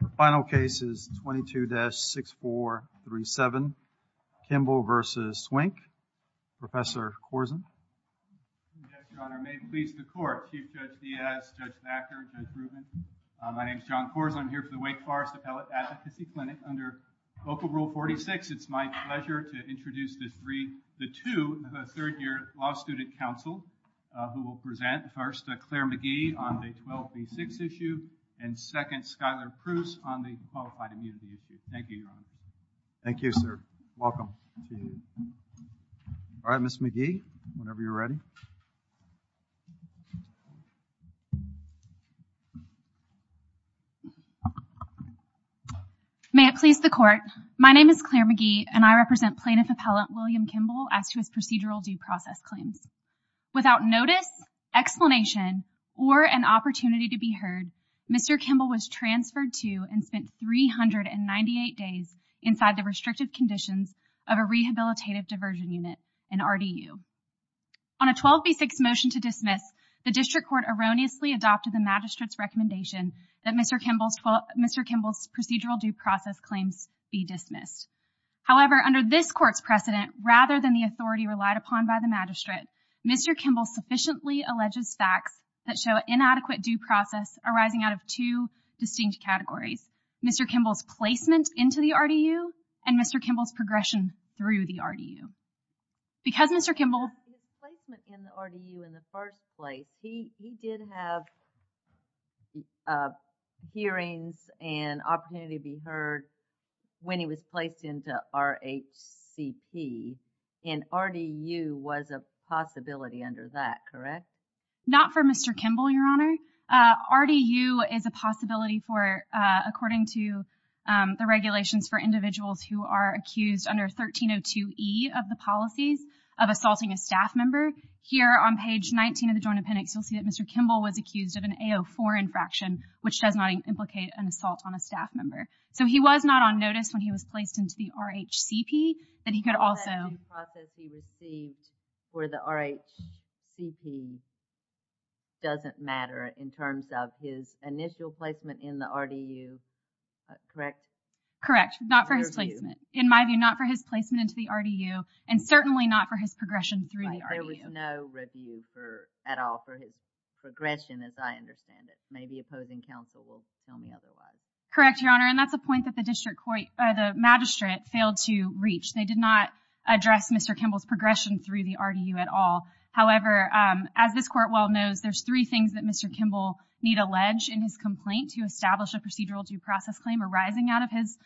The final case is 22-6437, Kimble v. Swink. Professor Corzine. Your Honor, may it please the Court. Chief Judge Diaz, Judge Backer, Judge Rubin. My name is John Corzine. I'm here for the Wake Forest Appellate Advocacy Clinic. Under Local Rule 46, it's my pleasure to introduce the three, the two, the third-year law student counsel who will present. First, Claire McGee on the 12B6 issue. And second, Skylar Pruse on the qualified immunity issue. Thank you, Your Honor. Thank you, sir. Welcome to you. All right, Ms. McGee, whenever you're ready. May it please the Court. My name is Claire McGee, and I represent Plaintiff Appellant William Kimble as to his procedural due process claims. Without notice, explanation, or an opportunity to be heard, Mr. Kimble was transferred to and spent 398 days inside the restrictive conditions of a rehabilitative diversion unit, an RDU. On a 12B6 motion to dismiss, the District Court erroneously adopted the Magistrate's recommendation that Mr. Kimble's procedural due process claims be dismissed. However, under this Court's precedent, rather than the authority relied upon by the Magistrate, Mr. Kimble sufficiently alleges facts that show inadequate due process arising out of two distinct categories, Mr. Kimble's placement into the RDU and Mr. Kimble's progression through the RDU. Because Mr. Kimble His placement in the RDU in the first place, he did have hearings and opportunity to be heard when he was placed into RHCP, and RDU was a possibility under that, correct? Not for Mr. Kimble, Your Honor. RDU is a possibility for, according to the regulations for individuals who are accused under 1302E of the policies of assaulting a staff member. Here on page 19 of the Joint Appendix, you'll see that Mr. Kimble was accused of an AO4 infraction, which does not implicate an assault on a staff member. So he was not on notice when he was placed into the RHCP, that he could also The due process he received for the RHCP doesn't matter in terms of his initial placement in the RDU, correct? Correct, not for his placement. In my view, not for his placement into the RDU, and certainly not for his progression through the RDU. There was no review at all for his progression as I understand it. Maybe opposing counsel will tell me otherwise. Correct, Your Honor, and that's a point that the magistrate failed to reach. They did not address Mr. Kimble's progression through the RDU at all. However, as this court well knows, there's three things that Mr. Kimble need allege in his complaint to establish a procedural due process claim arising out of his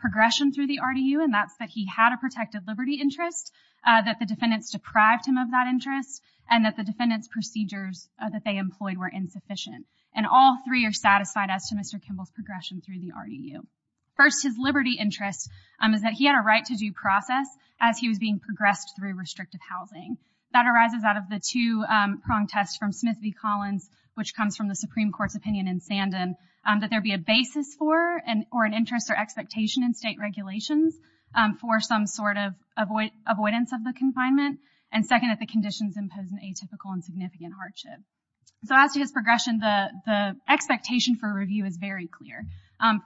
progression through the RDU, and that's that he had a protected liberty interest, that the defendants deprived him of that interest, and that the defendants' procedures that they employed were insufficient. And all three are satisfied as to Mr. Kimble's progression through the RDU. First, his liberty interest is that he had a right to due process as he was being progressed through restrictive housing. That arises out of the two-prong test from Smith v. Collins, which comes from the Supreme Court's opinion in Sanden, that there be a basis for or an interest or expectation in state regulations for some sort of avoidance of the confinement, and second, that the conditions impose an atypical and significant hardship. So as to his progression, the expectation for review is very clear.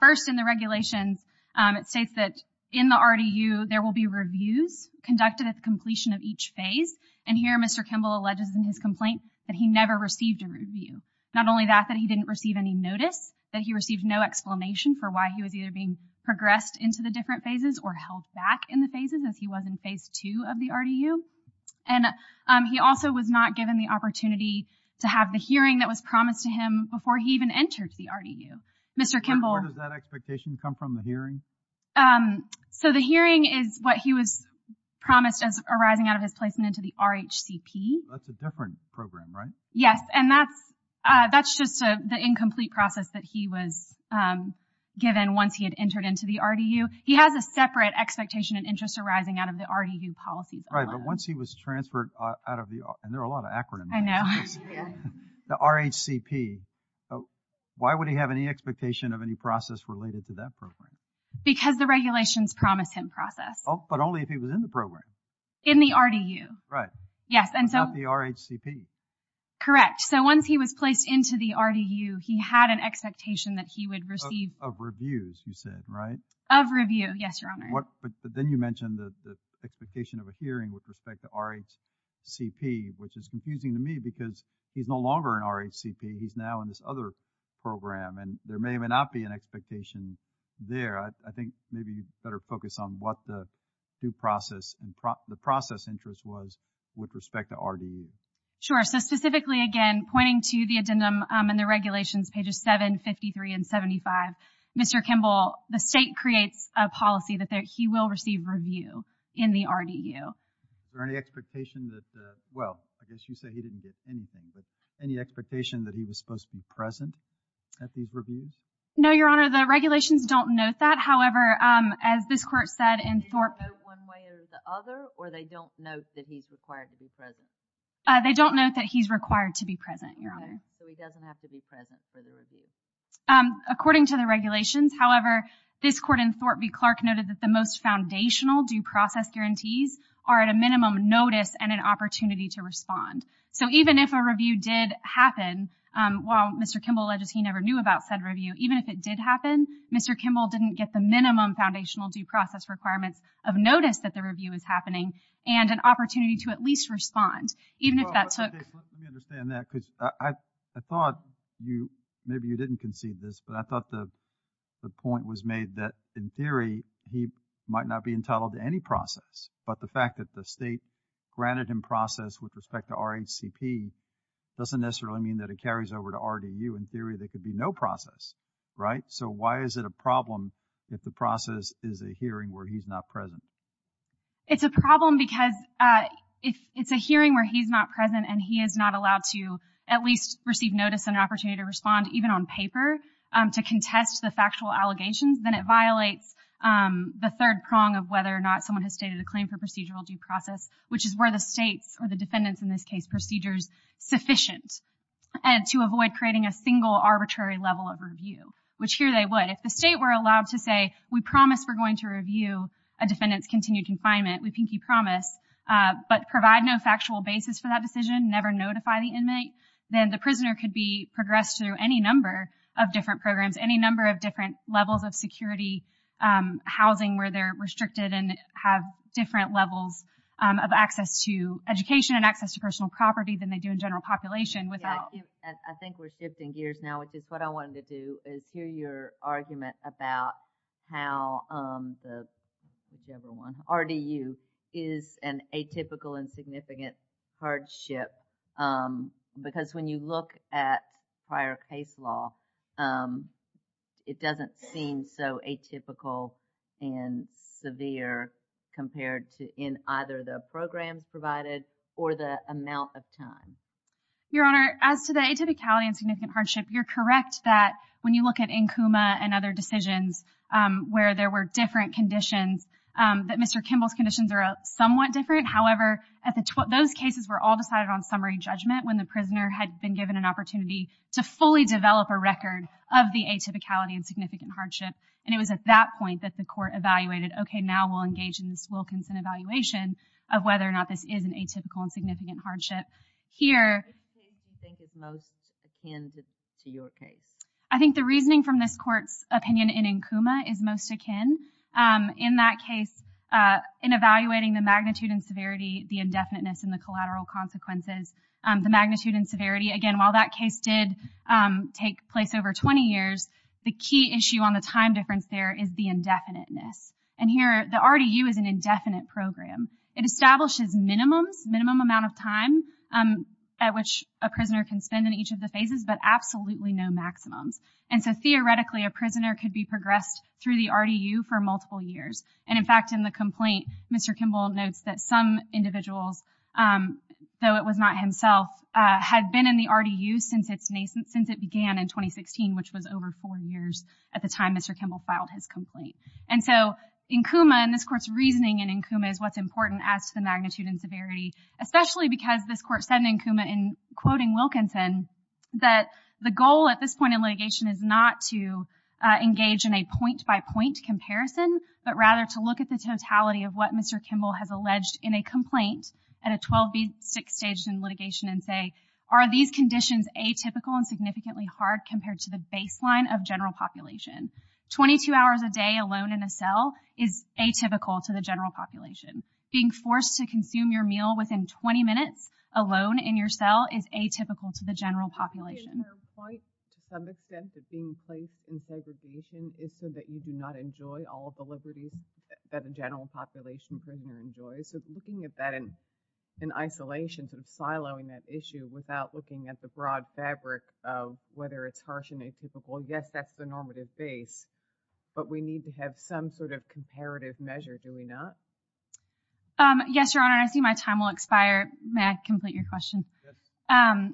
First, in the regulations, it states that in the RDU there will be reviews conducted at the completion of each phase, and here Mr. Kimble alleges in his complaint that he never received a review. Not only that, that he didn't receive any notice, that he received no explanation for why he was either being progressed into the different phases or held back in the phases as he was in phase two of the RDU, and he also was not given the opportunity to have the hearing that was promised to him before he even entered the RDU. Mr. Kimble. Where does that expectation come from, the hearing? So the hearing is what he was promised as arising out of his placement into the RHCP. That's a different program, right? Yes, and that's just the incomplete process that he was given once he had entered into the RDU. He has a separate expectation and interest arising out of the RDU policies alone. Right, but once he was transferred out of the, and there are a lot of acronyms. I know. The RHCP. Why would he have any expectation of any process related to that program? Because the regulations promised him process. Oh, but only if he was in the program. In the RDU. Right. Yes, and so. Not the RHCP. Correct. So once he was placed into the RDU, he had an expectation that he would receive. Of reviews, you said, right? Of review, yes, Your Honor. But then you mentioned the expectation of a hearing with respect to RHCP, which is confusing to me because he's no longer in RHCP. He's now in this other program, and there may even not be an expectation there. I think maybe you'd better focus on what the due process and the process interest was with respect to RDU. Sure, so specifically, again, pointing to the addendum in the regulations, pages 7, 53, and 75, Mr. Kimball, the state creates a policy that he will receive review in the RDU. Is there any expectation that, well, I guess you said he didn't get anything, but any expectation that he was supposed to be present at these reviews? No, Your Honor, the regulations don't note that. However, as this Court said in Thorpe. They don't note one way or the other, or they don't note that he's required to be present? They don't note that he's required to be present, Your Honor. Okay, so he doesn't have to be present for the review. According to the regulations. However, this Court in Thorpe v. Clark noted that the most foundational due process guarantees are at a minimum notice and an opportunity to respond. So even if a review did happen, while Mr. Kimball alleges he never knew about said review, even if it did happen, Mr. Kimball didn't get the minimum foundational due process requirements of notice that the review is happening and an opportunity to at least respond, even if that took Let me understand that because I thought you, maybe you didn't conceive this, but I thought the point was made that, in theory, he might not be entitled to any process. But the fact that the state granted him process with respect to RHCP doesn't necessarily mean that it carries over to RDU. In theory, there could be no process, right? So why is it a problem if the process is a hearing where he's not present? It's a problem because if it's a hearing where he's not present and he is not allowed to at least receive notice and an opportunity to respond, even on paper, to contest the factual allegations, then it violates the third prong of whether or not someone has stated a claim for procedural due process, which is where the state's, or the defendant's in this case, procedures sufficient to avoid creating a single arbitrary level of review, which here they would. If the state were allowed to say, we promise we're going to review a defendant's continued confinement, we pinky promise, but provide no factual basis for that decision, never notify the inmate, then the prisoner could be progressed through any number of different programs, any number of different levels of security, housing where they're restricted and have different levels of access to education and access to personal property than they do in general population without... I think we're shifting gears now, which is what I wanted to do, is hear your argument about how the RDU is an atypical and significant hardship because when you look at prior case law, it doesn't seem so atypical and severe compared to in either the programs provided or the amount of time. Your Honor, as to the atypicality and significant hardship, you're correct that when you look at NKUMA and other decisions where there were different conditions, that Mr. Kimball's conditions are somewhat different. However, those cases were all decided on summary judgment when the prisoner had been given an opportunity to fully develop a record of the atypicality and significant hardship. And it was at that point that the court evaluated, okay, now we'll engage in this Wilkinson evaluation of whether or not this is an atypical and significant hardship. Here... Which case do you think is most akin to your case? I think the reasoning from this court's opinion in NKUMA is most akin. In that case, in evaluating the magnitude and severity, the indefiniteness, and the collateral consequences, the magnitude and severity, again, while that case did take place over 20 years, the key issue on the time difference there is the indefiniteness. And here, the RDU is an indefinite program. It establishes minimums, minimum amount of time at which a prisoner can spend in each of the phases, but absolutely no maximums. And so theoretically, a prisoner could be progressed through the RDU for multiple years. And, in fact, in the complaint, Mr. Kimball notes that some individuals, though it was not himself, had been in the RDU since it began in 2016, which was over four years at the time Mr. Kimball filed his complaint. And so NKUMA, and this court's reasoning in NKUMA, is what's important as to the magnitude and severity, especially because this court said in NKUMA, in quoting Wilkinson, that the goal at this point in litigation is not to engage in a point-by-point comparison, but rather to look at the totality of what Mr. Kimball has alleged in a complaint at a 12B6 stage in litigation and say, are these conditions atypical and significantly hard compared to the baseline of general population? Twenty-two hours a day alone in a cell is atypical to the general population. Being forced to consume your meal within 20 minutes alone in your cell is atypical to the general population. And the point, to some extent, of being placed in segregation is so that you do not enjoy all of the liberties that a general population prisoner enjoys. So looking at that in isolation, sort of siloing that issue and saying, well, yes, that's the normative base, but we need to have some sort of comparative measure, do we not? Yes, Your Honor, I see my time will expire. May I complete your question? Yes.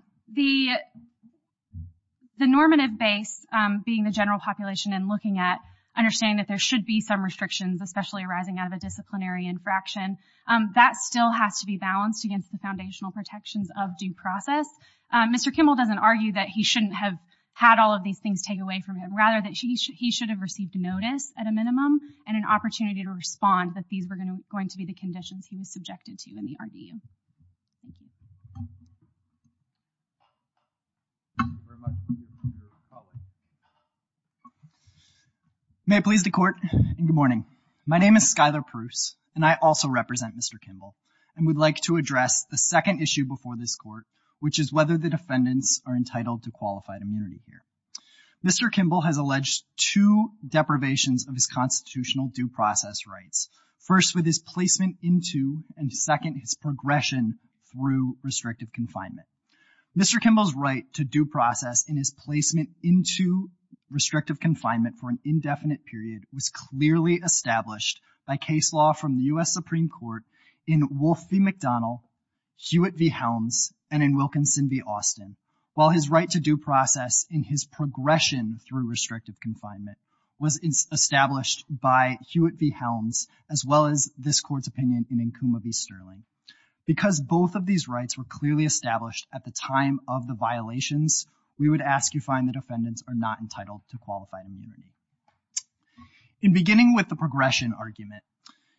The normative base, being the general population and looking at, understanding that there should be some restrictions, especially arising out of a disciplinary infraction, that still has to be balanced against the foundational protections of due process. Mr. Kimball doesn't argue that he shouldn't have had all of these things take away from him, rather that he should have received notice, at a minimum, and an opportunity to respond that these were going to be the conditions he was subjected to in the RDU. May it please the Court, and good morning. My name is Skylar Pruce, and I also represent Mr. Kimball, and would like to address the second issue before this Court, which is whether the defendants are entitled to qualified immunity here. Mr. Kimball has alleged two deprivations of his constitutional due process rights. First, with his placement into, and second, his progression through restrictive confinement. Mr. Kimball's right to due process in his placement into restrictive confinement for an indefinite period was clearly established by case law from the U.S. Supreme Court in Wolf v. McDonnell, Hewitt v. Helms, and in Wilkinson v. Austin, while his right to due process in his progression through restrictive confinement was established by Hewitt v. Helms, as well as this Court's opinion in Nkuma v. Sterling. Because both of these rights were clearly established at the time of the violations, we would ask you find the defendants are not entitled to qualified immunity. In beginning with the progression argument,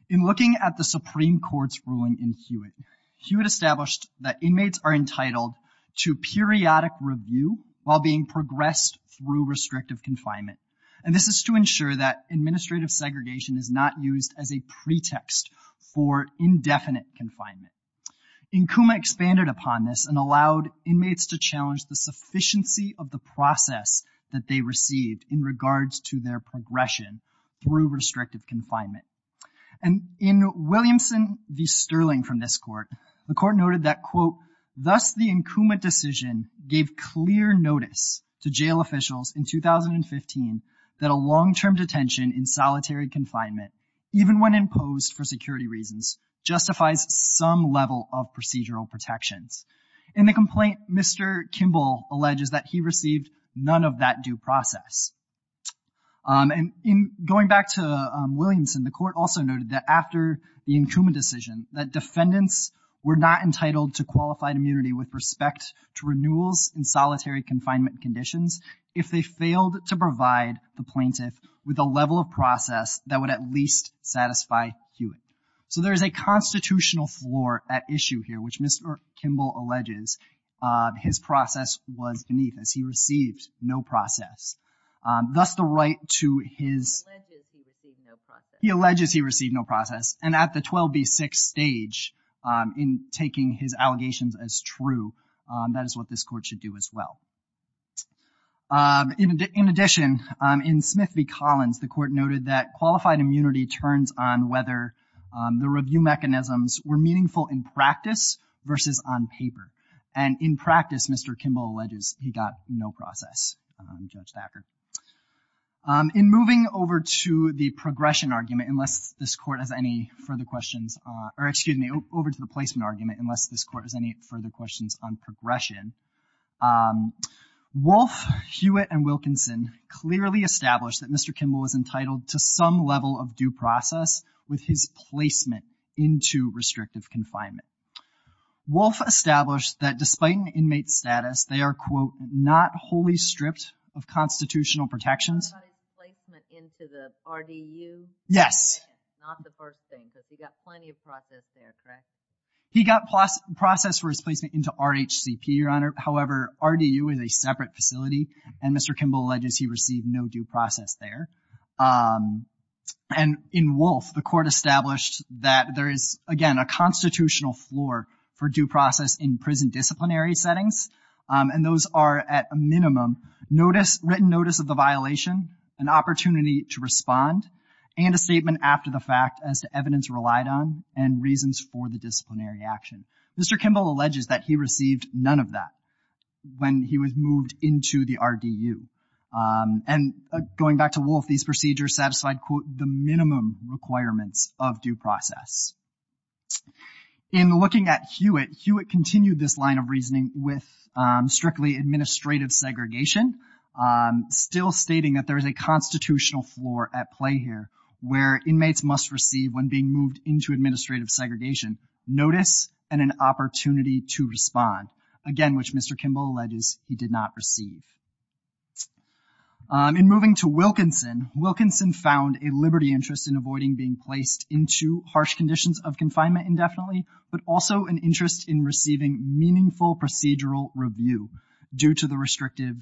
in looking at the Supreme Court's ruling in Hewitt, Hewitt established that inmates are entitled to periodic review while being progressed through restrictive confinement, and this is to ensure that administrative segregation is not used as a pretext for indefinite confinement. Nkuma expanded upon this and allowed inmates to challenge the sufficiency of the process that they received in regards to their progression through restrictive confinement. And in Williamson v. Sterling from this Court, the Court noted that, quote, thus the Nkuma decision gave clear notice to jail officials in 2015 that a long-term detention in solitary confinement, even when imposed for security reasons, justifies some level of procedural protections. In the complaint, Mr. Kimball alleges that he received none of that due process. And in going back to Williamson, the Court also noted that after the Nkuma decision, that defendants were not entitled to qualified immunity with respect to renewals in solitary confinement conditions if they failed to provide the plaintiff with a level of process that would at least satisfy Hewitt. So there is a constitutional floor at issue here, which Mr. Kimball alleges his process was beneath, as he received no process. Thus the right to his... He alleges he received no process, and at the 12B6 stage, in taking his allegations as true, that is what this Court should do as well. In addition, in Smith v. Collins, the Court noted that qualified immunity turns on whether the review mechanisms were meaningful in practice versus on paper. And in practice, Mr. Kimball alleges he got no process, Judge Thacker. In moving over to the progression argument, unless this Court has any further questions, or excuse me, over to the placement argument, unless this Court has any further questions on progression, Wolf, Hewitt, and Wilkinson clearly established that Mr. Kimball was entitled to some level of due process with his placement into restrictive confinement. Wolf established that despite an inmate's status, they are, quote, not wholly stripped of constitutional protections. He got his placement into the RDU? Yes. Not the first thing, because he got plenty of process there, correct? He got process for his placement into RHCP, Your Honor. However, RDU is a separate facility, and Mr. Kimball alleges he received no due process there. And in Wolf, the Court established that there is, again, a constitutional floor for due process in prison disciplinary settings, and those are, at a minimum, written notice of the violation, an opportunity to respond, and a statement after the fact as to evidence relied on and reasons for the disciplinary action. Mr. Kimball alleges that he received none of that when he was moved into the RDU. And going back to Wolf, these procedures satisfied, quote, the minimum requirements of due process. In looking at Hewitt, Hewitt continued this line of reasoning with strictly administrative segregation, still stating that there is a constitutional floor at play here where inmates must receive, when being moved into administrative segregation, notice and an opportunity to respond, again, which Mr. Kimball alleges he did not receive. In moving to Wilkinson, Wilkinson found a liberty interest in avoiding being placed into harsh conditions of confinement indefinitely, but also an interest in receiving meaningful procedural review due to the restrictive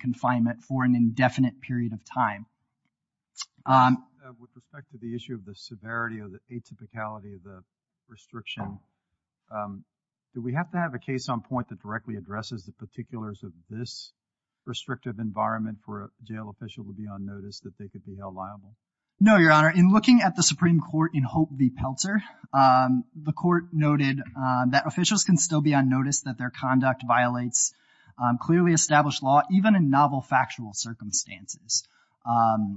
confinement for an indefinite period of time. With respect to the issue of the severity of the atypicality of the restriction, do we have to have a case on point that directly addresses the particulars of this restrictive environment for a jail official to be on notice that they could be held liable? No, Your Honor. In looking at the Supreme Court in Hope v. Pelzer, the court noted that officials can still be on notice that their conduct violates clearly established law, even in novel factual circumstances.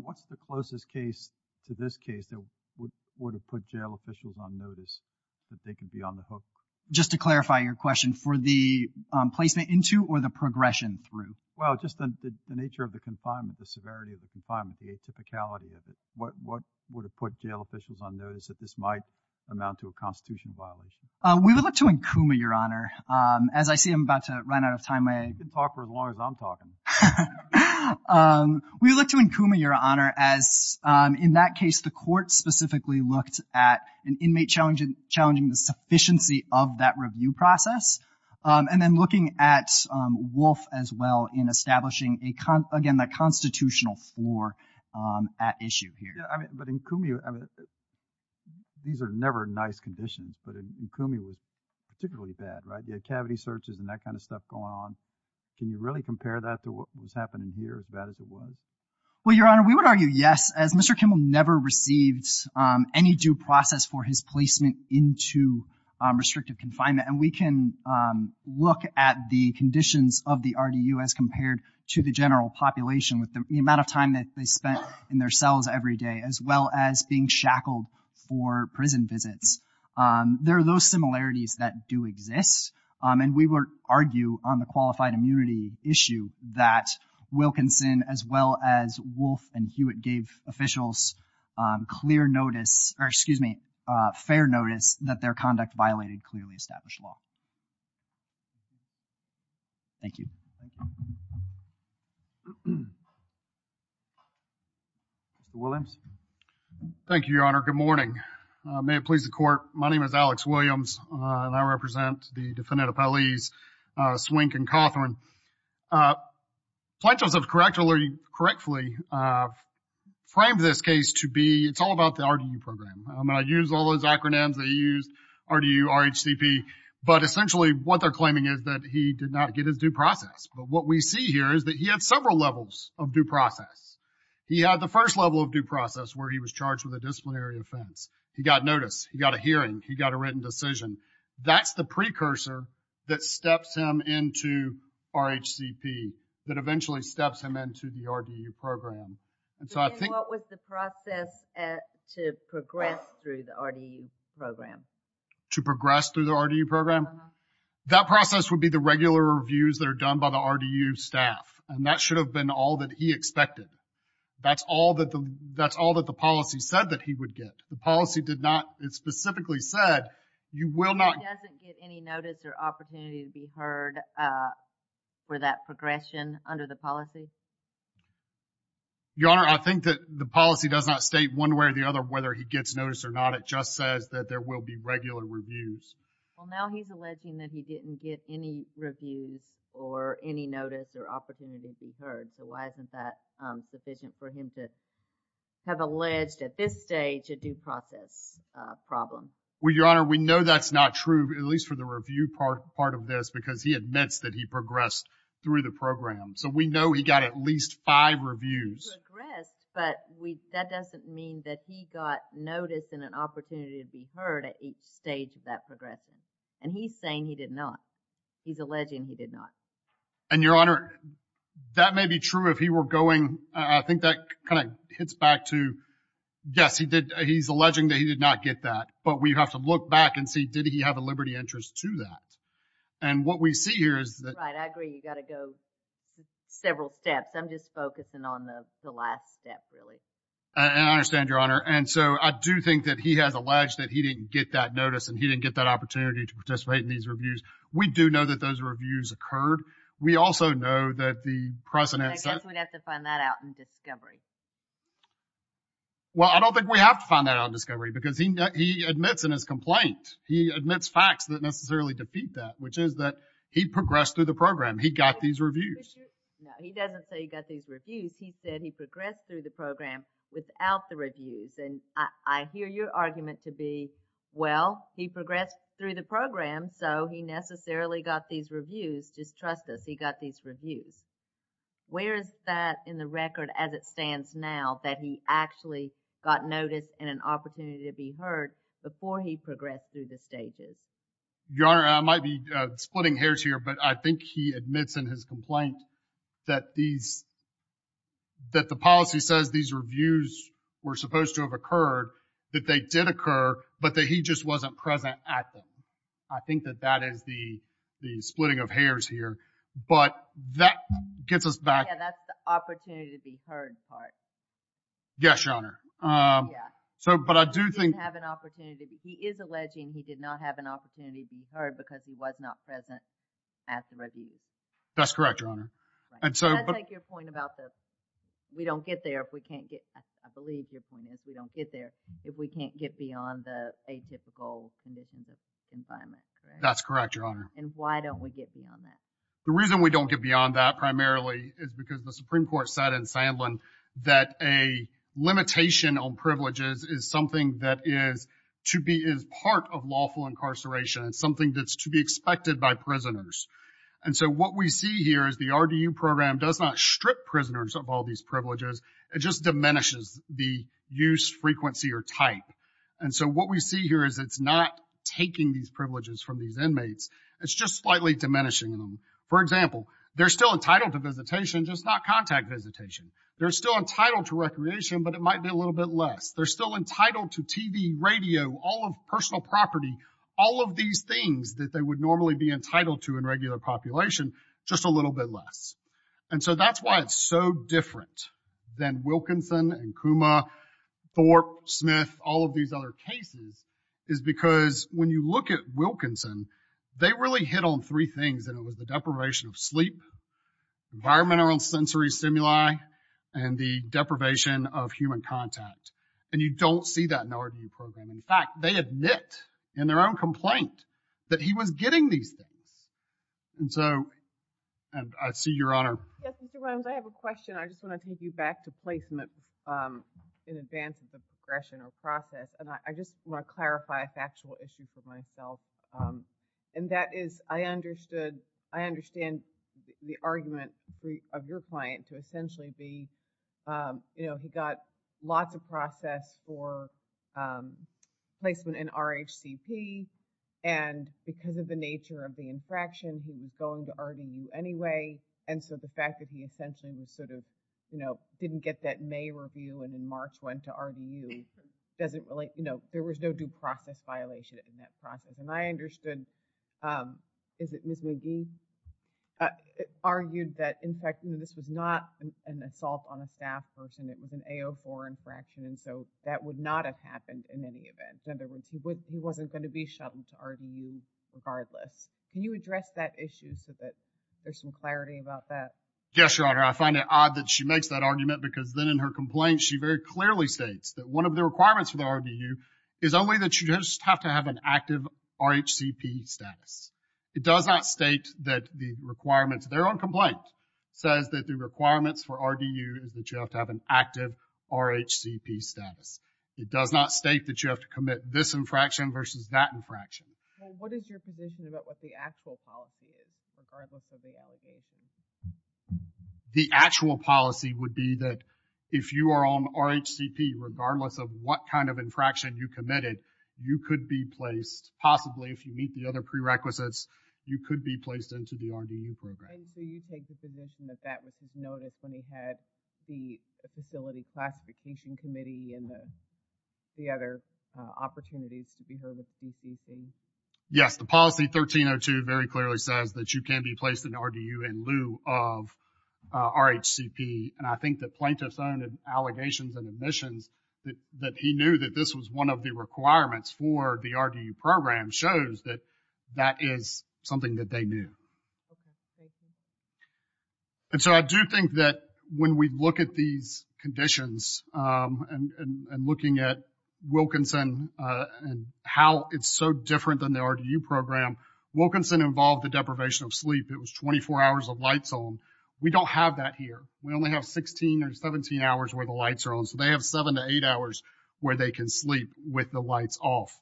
What's the closest case to this case that would have put jail officials on notice that they could be on the hook? Just to clarify your question, for the placement into or the progression through? Well, just the nature of the confinement, the severity of the confinement, the atypicality of it. What would have put jail officials on notice that this might amount to a Constitution violation? We would look to Nkuma, Your Honor. As I see I'm about to run out of time. You can talk for as long as I'm talking. We would look to Nkuma, Your Honor, as in that case the court specifically looked at an inmate challenging the sufficiency of that review process, and then looking at Wolfe as well in establishing, again, that constitutional floor at issue here. But Nkuma, these are never nice conditions, but Nkuma was particularly bad, right? You had cavity searches and that kind of stuff going on. Can you really compare that to what was happening here, as bad as it was? Well, Your Honor, we would argue yes. As Mr. Kimmel never received any due process for his placement into restrictive confinement, and we can look at the conditions of the RDU as compared to the general population with the amount of time that they spent in their cells every day, as well as being shackled for prison visits. There are those similarities that do exist, and we would argue on the qualified immunity issue that Wilkinson as well as Wolfe and Hewitt gave officials clear notice, or excuse me, fair notice that their conduct violated clearly established law. Thank you. Mr. Williams. Thank you, Your Honor. Good morning. May it please the Court, my name is Alex Williams, and I represent the defendant appellees Swink and Cawthorne. Plaintiffs have correctfully framed this case to be, it's all about the RDU program. I use all those acronyms they used, RDU, RHCP, but essentially what they're claiming is that he did not get his due process. But what we see here is that he had several levels of due process. He had the first level of due process where he was charged with a disciplinary offense. He got notice. He got a hearing. He got a written decision. That's the precursor that steps him into RHCP, that eventually steps him into the RDU program. What was the process to progress through the RDU program? To progress through the RDU program? Uh-huh. That process would be the regular reviews that are done by the RDU staff, and that should have been all that he expected. That's all that the policy said that he would get. The policy did not specifically said you will not. He doesn't get any notice or opportunity to be heard for that progression under the policy? Your Honor, I think that the policy does not state one way or the other whether he gets notice or not. It just says that there will be regular reviews. Well, now he's alleging that he didn't get any reviews or any notice or opportunity to be heard. So why isn't that sufficient for him to have alleged at this stage a due process problem? Well, Your Honor, we know that's not true, at least for the review part of this, because he admits that he progressed through the program. So we know he got at least five reviews. He progressed, but that doesn't mean that he got notice and an opportunity to be heard at each stage of that progression. And he's saying he did not. He's alleging he did not. And, Your Honor, that may be true if he were going, I think that kind of hits back to, yes, he's alleging that he did not get that. But we have to look back and see, did he have a liberty interest to that? And what we see here is that. Right, I agree. You've got to go several steps. I'm just focusing on the last step, really. And I understand, Your Honor. And so I do think that he has alleged that he didn't get that notice and he didn't get that opportunity to participate in these reviews. We do know that those reviews occurred. We also know that the precedent. I guess we'd have to find that out in discovery. Well, I don't think we have to find that out in discovery because he admits in his complaint. He admits facts that necessarily defeat that, which is that he progressed through the program. He got these reviews. No, he doesn't say he got these reviews. He said he progressed through the program without the reviews. And I hear your argument to be, well, he progressed through the program, so he necessarily got these reviews. Just trust us, he got these reviews. Where is that in the record as it stands now, that he actually got notice and an opportunity to be heard before he progressed through the stages? Your Honor, I might be splitting hairs here, but I think he admits in his complaint that these, that the policy says these reviews were supposed to have occurred, that they did occur, but that he just wasn't present at them. I think that that is the splitting of hairs here. But that gets us back. Yeah, that's the opportunity to be heard part. Yes, Your Honor. Yeah. So, but I do think. He didn't have an opportunity. He is alleging he did not have an opportunity to be heard because he was not present at the reviews. That's correct, Your Honor. Right. And so. I take your point about the, we don't get there if we can't get, I believe your point is we don't get there if we can't get beyond the atypical conditions of environment, correct? That's correct, Your Honor. And why don't we get beyond that? The reason we don't get beyond that primarily is because the Supreme Court said in Sandlin that a limitation on privileges is something that is to be, is part of lawful incarceration. It's something that's to be expected by prisoners. And so what we see here is the RDU program does not strip prisoners of all these privileges. It just diminishes the use, frequency, or type. And so what we see here is it's not taking these privileges from these prisoners, it's just slightly diminishing them. For example, they're still entitled to visitation, just not contact visitation. They're still entitled to recreation, but it might be a little bit less. They're still entitled to TV, radio, all of personal property, all of these things that they would normally be entitled to in regular population, just a little bit less. And so that's why it's so different than Wilkinson and Kuma, Thorpe, Smith, all of these other cases, is because when you look at Wilkinson, they really hit on three things, and it was the deprivation of sleep, environmental and sensory stimuli, and the deprivation of human contact. And you don't see that in the RDU program. In fact, they admit in their own complaint that he was getting these things. And so, and I see Your Honor. Yes, Mr. Williams, I have a question. I just want to take you back to placement in advance of the progression or process. And I just want to clarify a factual issue for myself, and that is I understand the argument of your client to essentially be, you know, he got lots of process for placement in RHCP, and because of the nature of the infraction, he was going to RDU anyway. And so the fact that he essentially was sort of, you know, didn't get that May review and in March went to RDU doesn't really, you know, there was no due process violation in that process. And I understood, is it Ms. McGee, argued that in fact this was not an assault on a staff person. It was an AO4 infraction. And so that would not have happened in any event. In other words, he wasn't going to be shuttled to RDU regardless. Can you address that issue so that there's some clarity about that? Yes, Your Honor. I find it odd that she makes that argument because then in her complaint, she very clearly states that one of the requirements for the RDU is only that you just have to have an active RHCP status. It does not state that the requirements. Their own complaint says that the requirements for RDU is that you have to have an active RHCP status. It does not state that you have to commit this infraction versus that infraction. What is your position about what the actual policy is, regardless of the allegations? The actual policy would be that if you are on RHCP, regardless of what kind of infraction you committed, you could be placed possibly if you meet the other prerequisites, you could be placed into the RDU program. And so you take the position that that was his notice when he had the facility classification committee and the other opportunities to be heard with the PCC. Yes. The policy 1302 very clearly says that you can be placed in RDU in lieu of RHCP. And I think that plaintiff's own allegations and admissions that he knew that this was one of the requirements for the RDU program shows that that is something that they knew. Okay. Thank you. And so I do think that when we look at these conditions and looking at Wilkinson and how it's so different than the RDU program, Wilkinson involved the deprivation of sleep. It was 24 hours of lights on. We don't have that here. We only have 16 or 17 hours where the lights are on. So they have seven to eight hours where they can sleep with the lights off.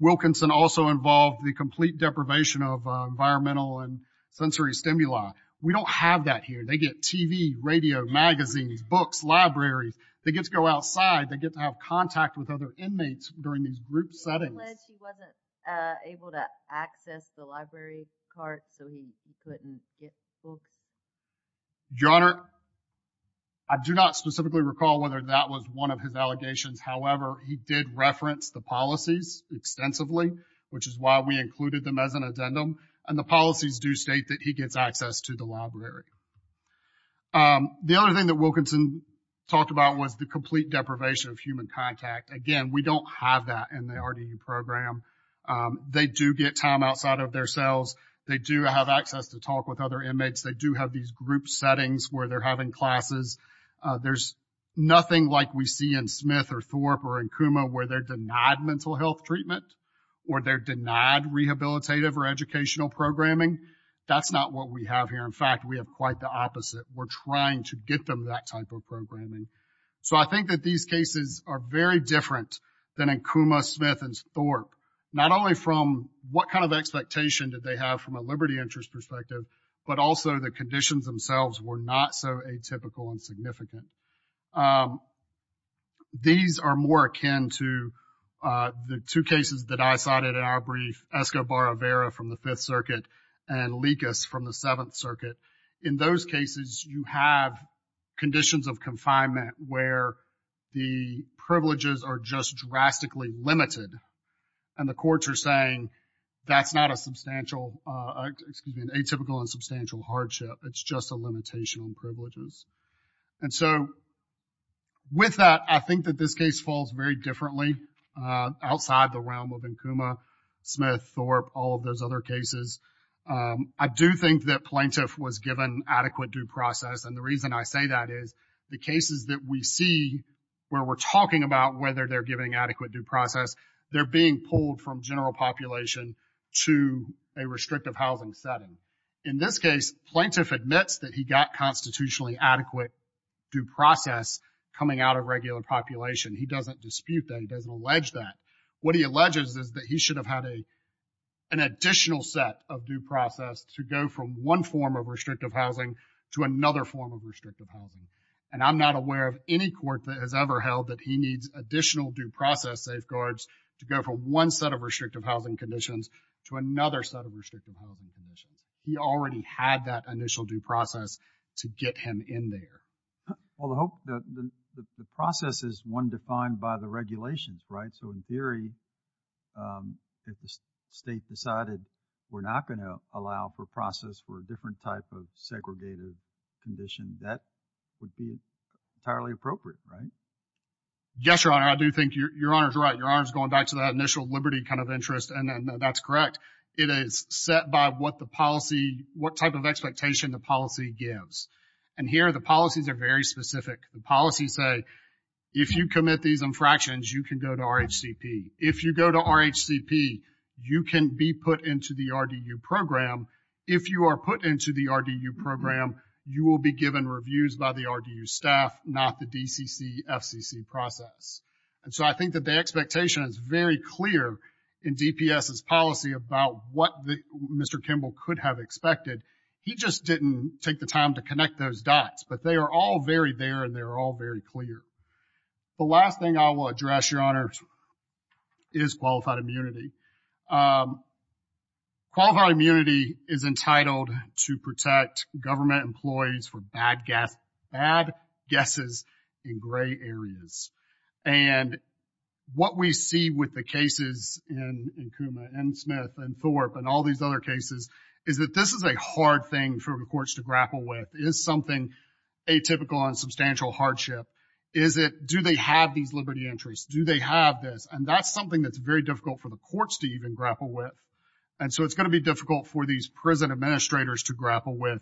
Wilkinson also involved the complete deprivation of environmental and sensory stimuli. We don't have that here. They get TV, radio, magazines, books, libraries. They get to go outside. They get to have contact with other inmates during these group settings. Unless he wasn't able to access the library cart so he couldn't get books. Your Honor, I do not specifically recall whether that was one of his allegations. However, he did reference the policies extensively, which is why we included them as an addendum. And the policies do state that he gets access to the library. The other thing that Wilkinson talked about was the complete deprivation of human contact. Again, we don't have that in the RDU program. They do get time outside of their cells. They do have access to talk with other inmates. They do have these group settings where they're having classes. There's nothing like we see in Smith or Thorpe or in Kuma where they're denied mental health treatment or they're denied rehabilitative or educational programming. That's not what we have here. In fact, we have quite the opposite. We're trying to get them that type of programming. So I think that these cases are very different than in Kuma, Smith, and Thorpe. Not only from what kind of expectation that they have from a liberty interest perspective, but also the conditions themselves were not so atypical and significant. These are more akin to the two cases that I cited in our brief, Escobar-Avera from the Fifth Circuit and Likas from the Seventh Circuit. In those cases, you have conditions of confinement where the privileges are just drastically limited. And the courts are saying that's not a substantial, excuse me, an atypical and substantial hardship. It's just a limitation on privileges. And so with that, I think that this case falls very differently outside the other cases. I do think that Plaintiff was given adequate due process. And the reason I say that is the cases that we see where we're talking about whether they're giving adequate due process, they're being pulled from general population to a restrictive housing setting. In this case, Plaintiff admits that he got constitutionally adequate due process coming out of regular population. He doesn't dispute that. He doesn't allege that. What he alleges is that he should have had an additional set of due process to go from one form of restrictive housing to another form of restrictive housing. And I'm not aware of any court that has ever held that he needs additional due process safeguards to go from one set of restrictive housing conditions to another set of restrictive housing conditions. He already had that initial due process to get him in there. Well, the process is one defined by the regulations, right? So, in theory, if the state decided we're not going to allow for a process for a different type of segregated condition, that would be entirely appropriate, right? Yes, Your Honor. I do think Your Honor is right. Your Honor is going back to that initial liberty kind of interest, and that's correct. It is set by what the policy, what type of expectation the policy gives. And here the policies are very specific. The policies say if you commit these infractions, you can go to RHCP. If you go to RHCP, you can be put into the RDU program. If you are put into the RDU program, you will be given reviews by the RDU staff, not the DCC FCC process. And so I think that the expectation is very clear in DPS's policy about what Mr. Kimball could have expected. He just didn't take the time to connect those dots. But they are all very there, and they're all very clear. The last thing I will address, Your Honor, is qualified immunity. Qualified immunity is entitled to protect government employees from bad guesses in gray areas. And what we see with the cases in Kuma and Smith and Thorpe and all these other cases is that this is a hard thing for the courts to grapple with. It is something atypical and substantial hardship. Is it, do they have these liberty entries? Do they have this? And that's something that's very difficult for the courts to even grapple with. And so it's going to be difficult for these prison administrators to grapple with.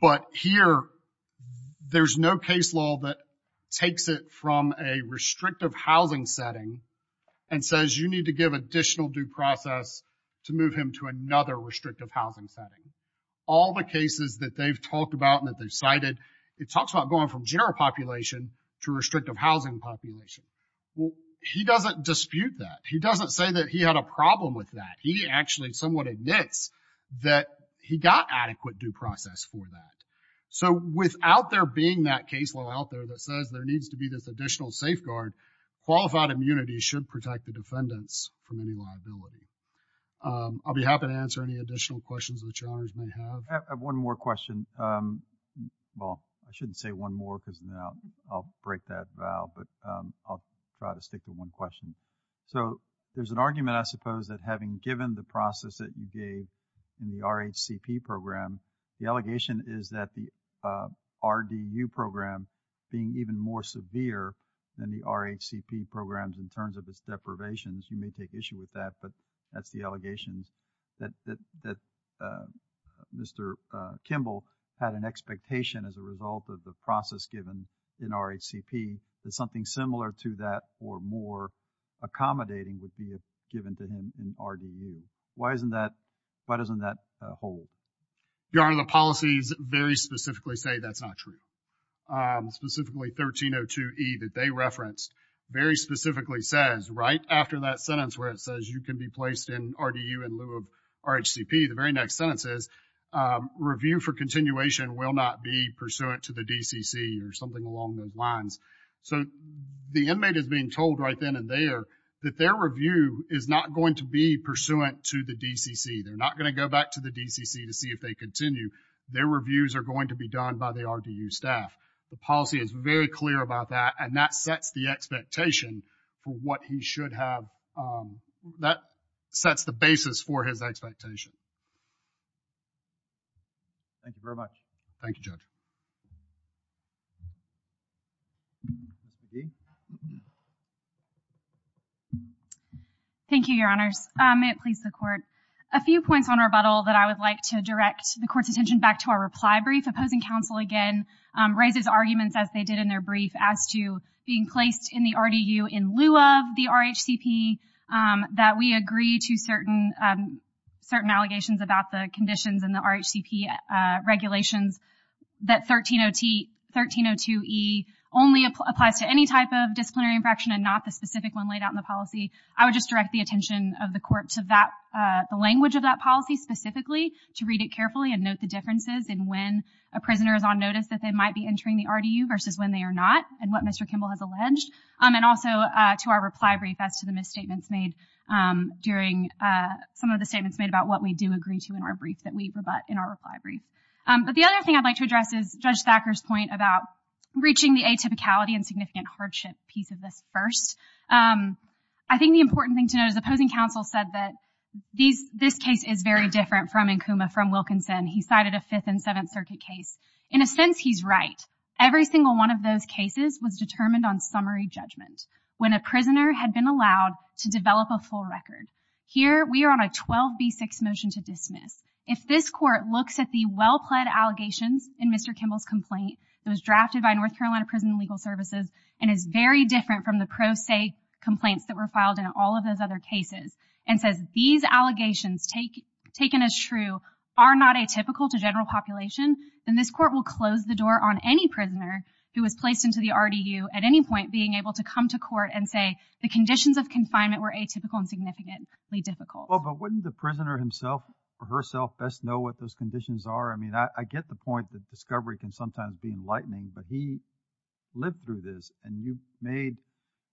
But here, there's no case law that takes it from a restrictive housing setting and says you need to give additional due process to move him to another restrictive housing setting. All the cases that they've talked about and that they've cited, it talks about going from general population to restrictive housing population. Well, he doesn't dispute that. He doesn't say that he had a problem with that. He actually somewhat admits that he got adequate due process for that. So without there being that case law out there that says there needs to be this additional safeguard, qualified immunity should protect the defendants from any liability. I'll be happy to answer any additional questions that Your Honors may have. I have one more question. Well, I shouldn't say one more because now I'll break that vow, but I'll try to stick to one question. So there's an argument, I suppose, that having given the process that you gave in the RHCP program, the allegation is that the RDU program being even more severe than the RHCP programs in terms of its deprivations, you may take issue with that, but that's the allegations that Mr. Kimball had an expectation as a result of the process given in RHCP that something similar to that or more accommodating would be given to him in RDU. Why doesn't that hold? Your Honor, the policies very specifically say that's not true. Specifically 1302E that they referenced very specifically says right after that sentence where it says you can be placed in RDU in lieu of RHCP, the very next sentence is review for continuation will not be pursuant to the DCC or something along those lines. So the inmate is being told right then and there that their review is not going to be pursuant to the DCC. They're not going to go back to the DCC to see if they continue. Their reviews are going to be done by the RDU staff. The policy is very clear about that, and that sets the expectation for what he should have. That sets the basis for his expectation. Thank you very much. Thank you, Judge. Thank you, Your Honors. May it please the Court. A few points on rebuttal that I would like to direct the Court's attention back to our reply brief. Opposing counsel again raises arguments, as they did in their brief, as to being placed in the RDU in lieu of the RHCP, that we agree to certain allegations about the conditions in the RHCP regulations that 1302E only applies to any type of disciplinary infraction and not the specific one laid out in the policy. I would just direct the attention of the Court to the language of that policy specifically to read it carefully and note the differences in when a prisoner is on notice that they might be entering the RDU versus when they are not and what Mr. Kimball has alleged, and also to our reply brief as to the misstatements made during some of the statements made about what we do agree to in our brief that we rebut in our reply brief. But the other thing I'd like to address is Judge Thacker's point about reaching the atypicality and significant hardship piece of this first. I think the important thing to note is opposing counsel said that this case is very different from Nkuma, from Wilkinson. He cited a Fifth and Seventh Circuit case. In a sense, he's right. Every single one of those cases was determined on summary judgment. When a prisoner had been allowed to develop a full record, here we are on a 12B6 motion to dismiss. If this Court looks at the well-pled allegations in Mr. Kimball's complaint, it was drafted by North Carolina Prison and Legal Services and is very different from the pro se complaints that were filed in all of those other If the allegations taken as true are not atypical to general population, then this Court will close the door on any prisoner who was placed into the RDU at any point being able to come to court and say the conditions of confinement were atypical and significantly difficult. But wouldn't the prisoner himself or herself best know what those conditions are? I mean, I get the point that discovery can sometimes be enlightening, but he lived through this and you made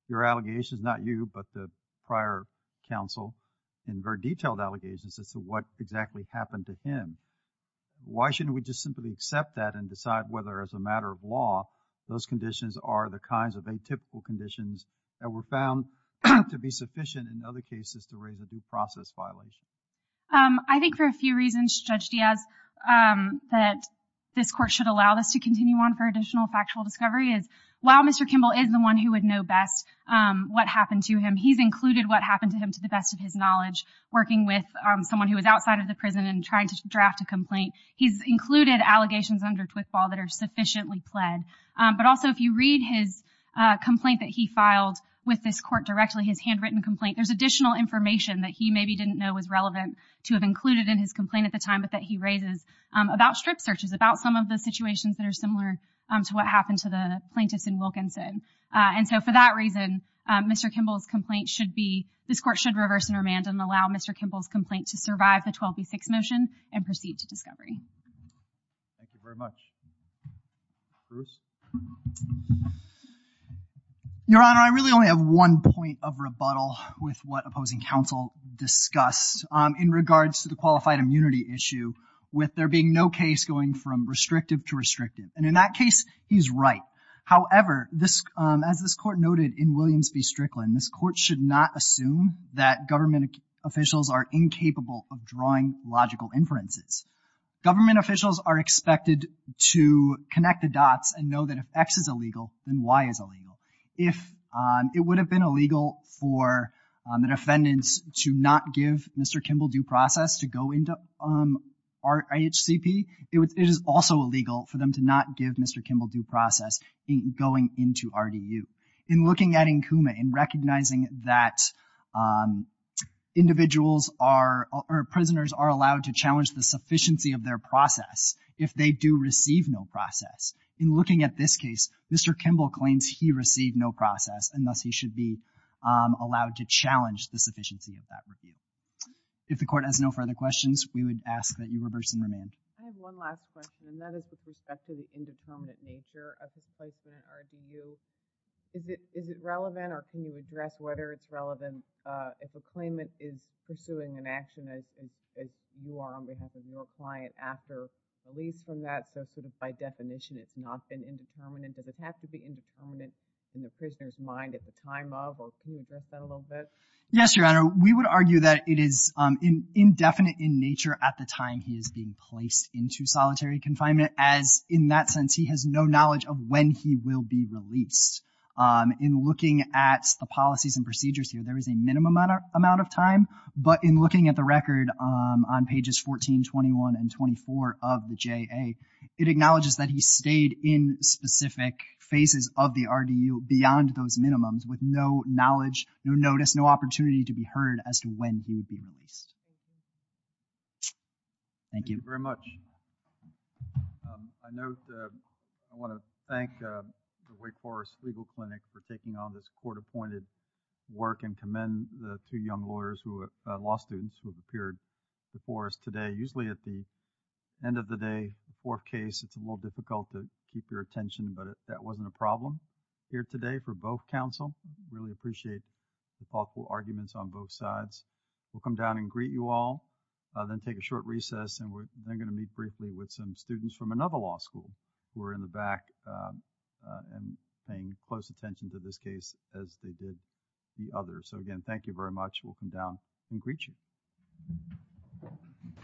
your allegations, not you, but the prior counsel in very detailed allegations as to what exactly happened to him. Why shouldn't we just simply accept that and decide whether as a matter of law those conditions are the kinds of atypical conditions that were found to be sufficient in other cases to raise a due process violation? I think for a few reasons, Judge Diaz, that this Court should allow this to continue on for additional factual discovery is while Mr. Kimball is the one who would know best what happened to him, he's included what happened to him to the best of his knowledge, working with someone who was outside of the prison and trying to draft a complaint. He's included allegations under Twithball that are sufficiently pled, but also if you read his complaint that he filed with this Court directly, his handwritten complaint, there's additional information that he maybe didn't know was relevant to have included in his complaint at the time, but that he raises about strip searches, about some of the situations that are similar to what happened to the plaintiffs in Wilkinson. And so for that reason, Mr. Kimball's complaint should be, this Court should reverse and remand and allow Mr. Kimball's complaint to survive the 12B6 motion and proceed to discovery. Thank you very much. Bruce? Your Honor, I really only have one point of rebuttal with what opposing counsel discussed in regards to the qualified immunity issue with there being no case going from restrictive to restrictive. And in that case, he's right. However, as this Court noted in Williams v. Strickland, this Court should not assume that government officials are incapable of drawing logical inferences. Government officials are expected to connect the dots and know that if X is illegal, then Y is illegal. If it would have been illegal for the defendants to not give Mr. Kimball due process to go into our IHCP, it is also illegal for them to not give Mr. Kimball due process going into RDU. In looking at Nkuma and recognizing that individuals are, or prisoners are allowed to challenge the sufficiency of their process if they do receive no process, in looking at this case, Mr. Kimball claims he received no process, and thus he should be allowed to challenge the sufficiency of that review. If the Court has no further questions, we would ask that you reverse and remand. I have one last question, and that is with respect to the indeterminate nature of his placement in RDU. Is it relevant, or can you address whether it's relevant if a claimant is pursuing an action as you are on behalf of your client after release from that, so sort of by definition it's not been indeterminate? Does it have to be indeterminate in the prisoner's mind at the time of, or can you address that a little bit? Yes, Your Honor. We would argue that it is indefinite in nature at the time he is being placed into solitary confinement as, in that sense, he has no knowledge of when he will be released. In looking at the policies and procedures here, there is a minimum amount of time, but in looking at the record on pages 14, 21, and 24 of the JA, it acknowledges that he stayed in specific phases of the RDU beyond those confinement. And that is not what the court has heard as to when he would be released. Thank you very much. I know. I want to thank. The Wake Forest legal clinic for taking on this court appointed. Work and commend the two young lawyers who are law students who have appeared. The forest today, usually at the. End of the day. The fourth case. It's a little difficult to keep your attention, but that wasn't a problem. Here today for both council. Really appreciate. The thoughtful arguments on both sides. We'll come down and greet you all. Then take a short recess and we're going to meet briefly with some students from another law school. We're in the back. And paying close attention to this case as they did. The other. So again, thank you very much. We'll come down and greet you.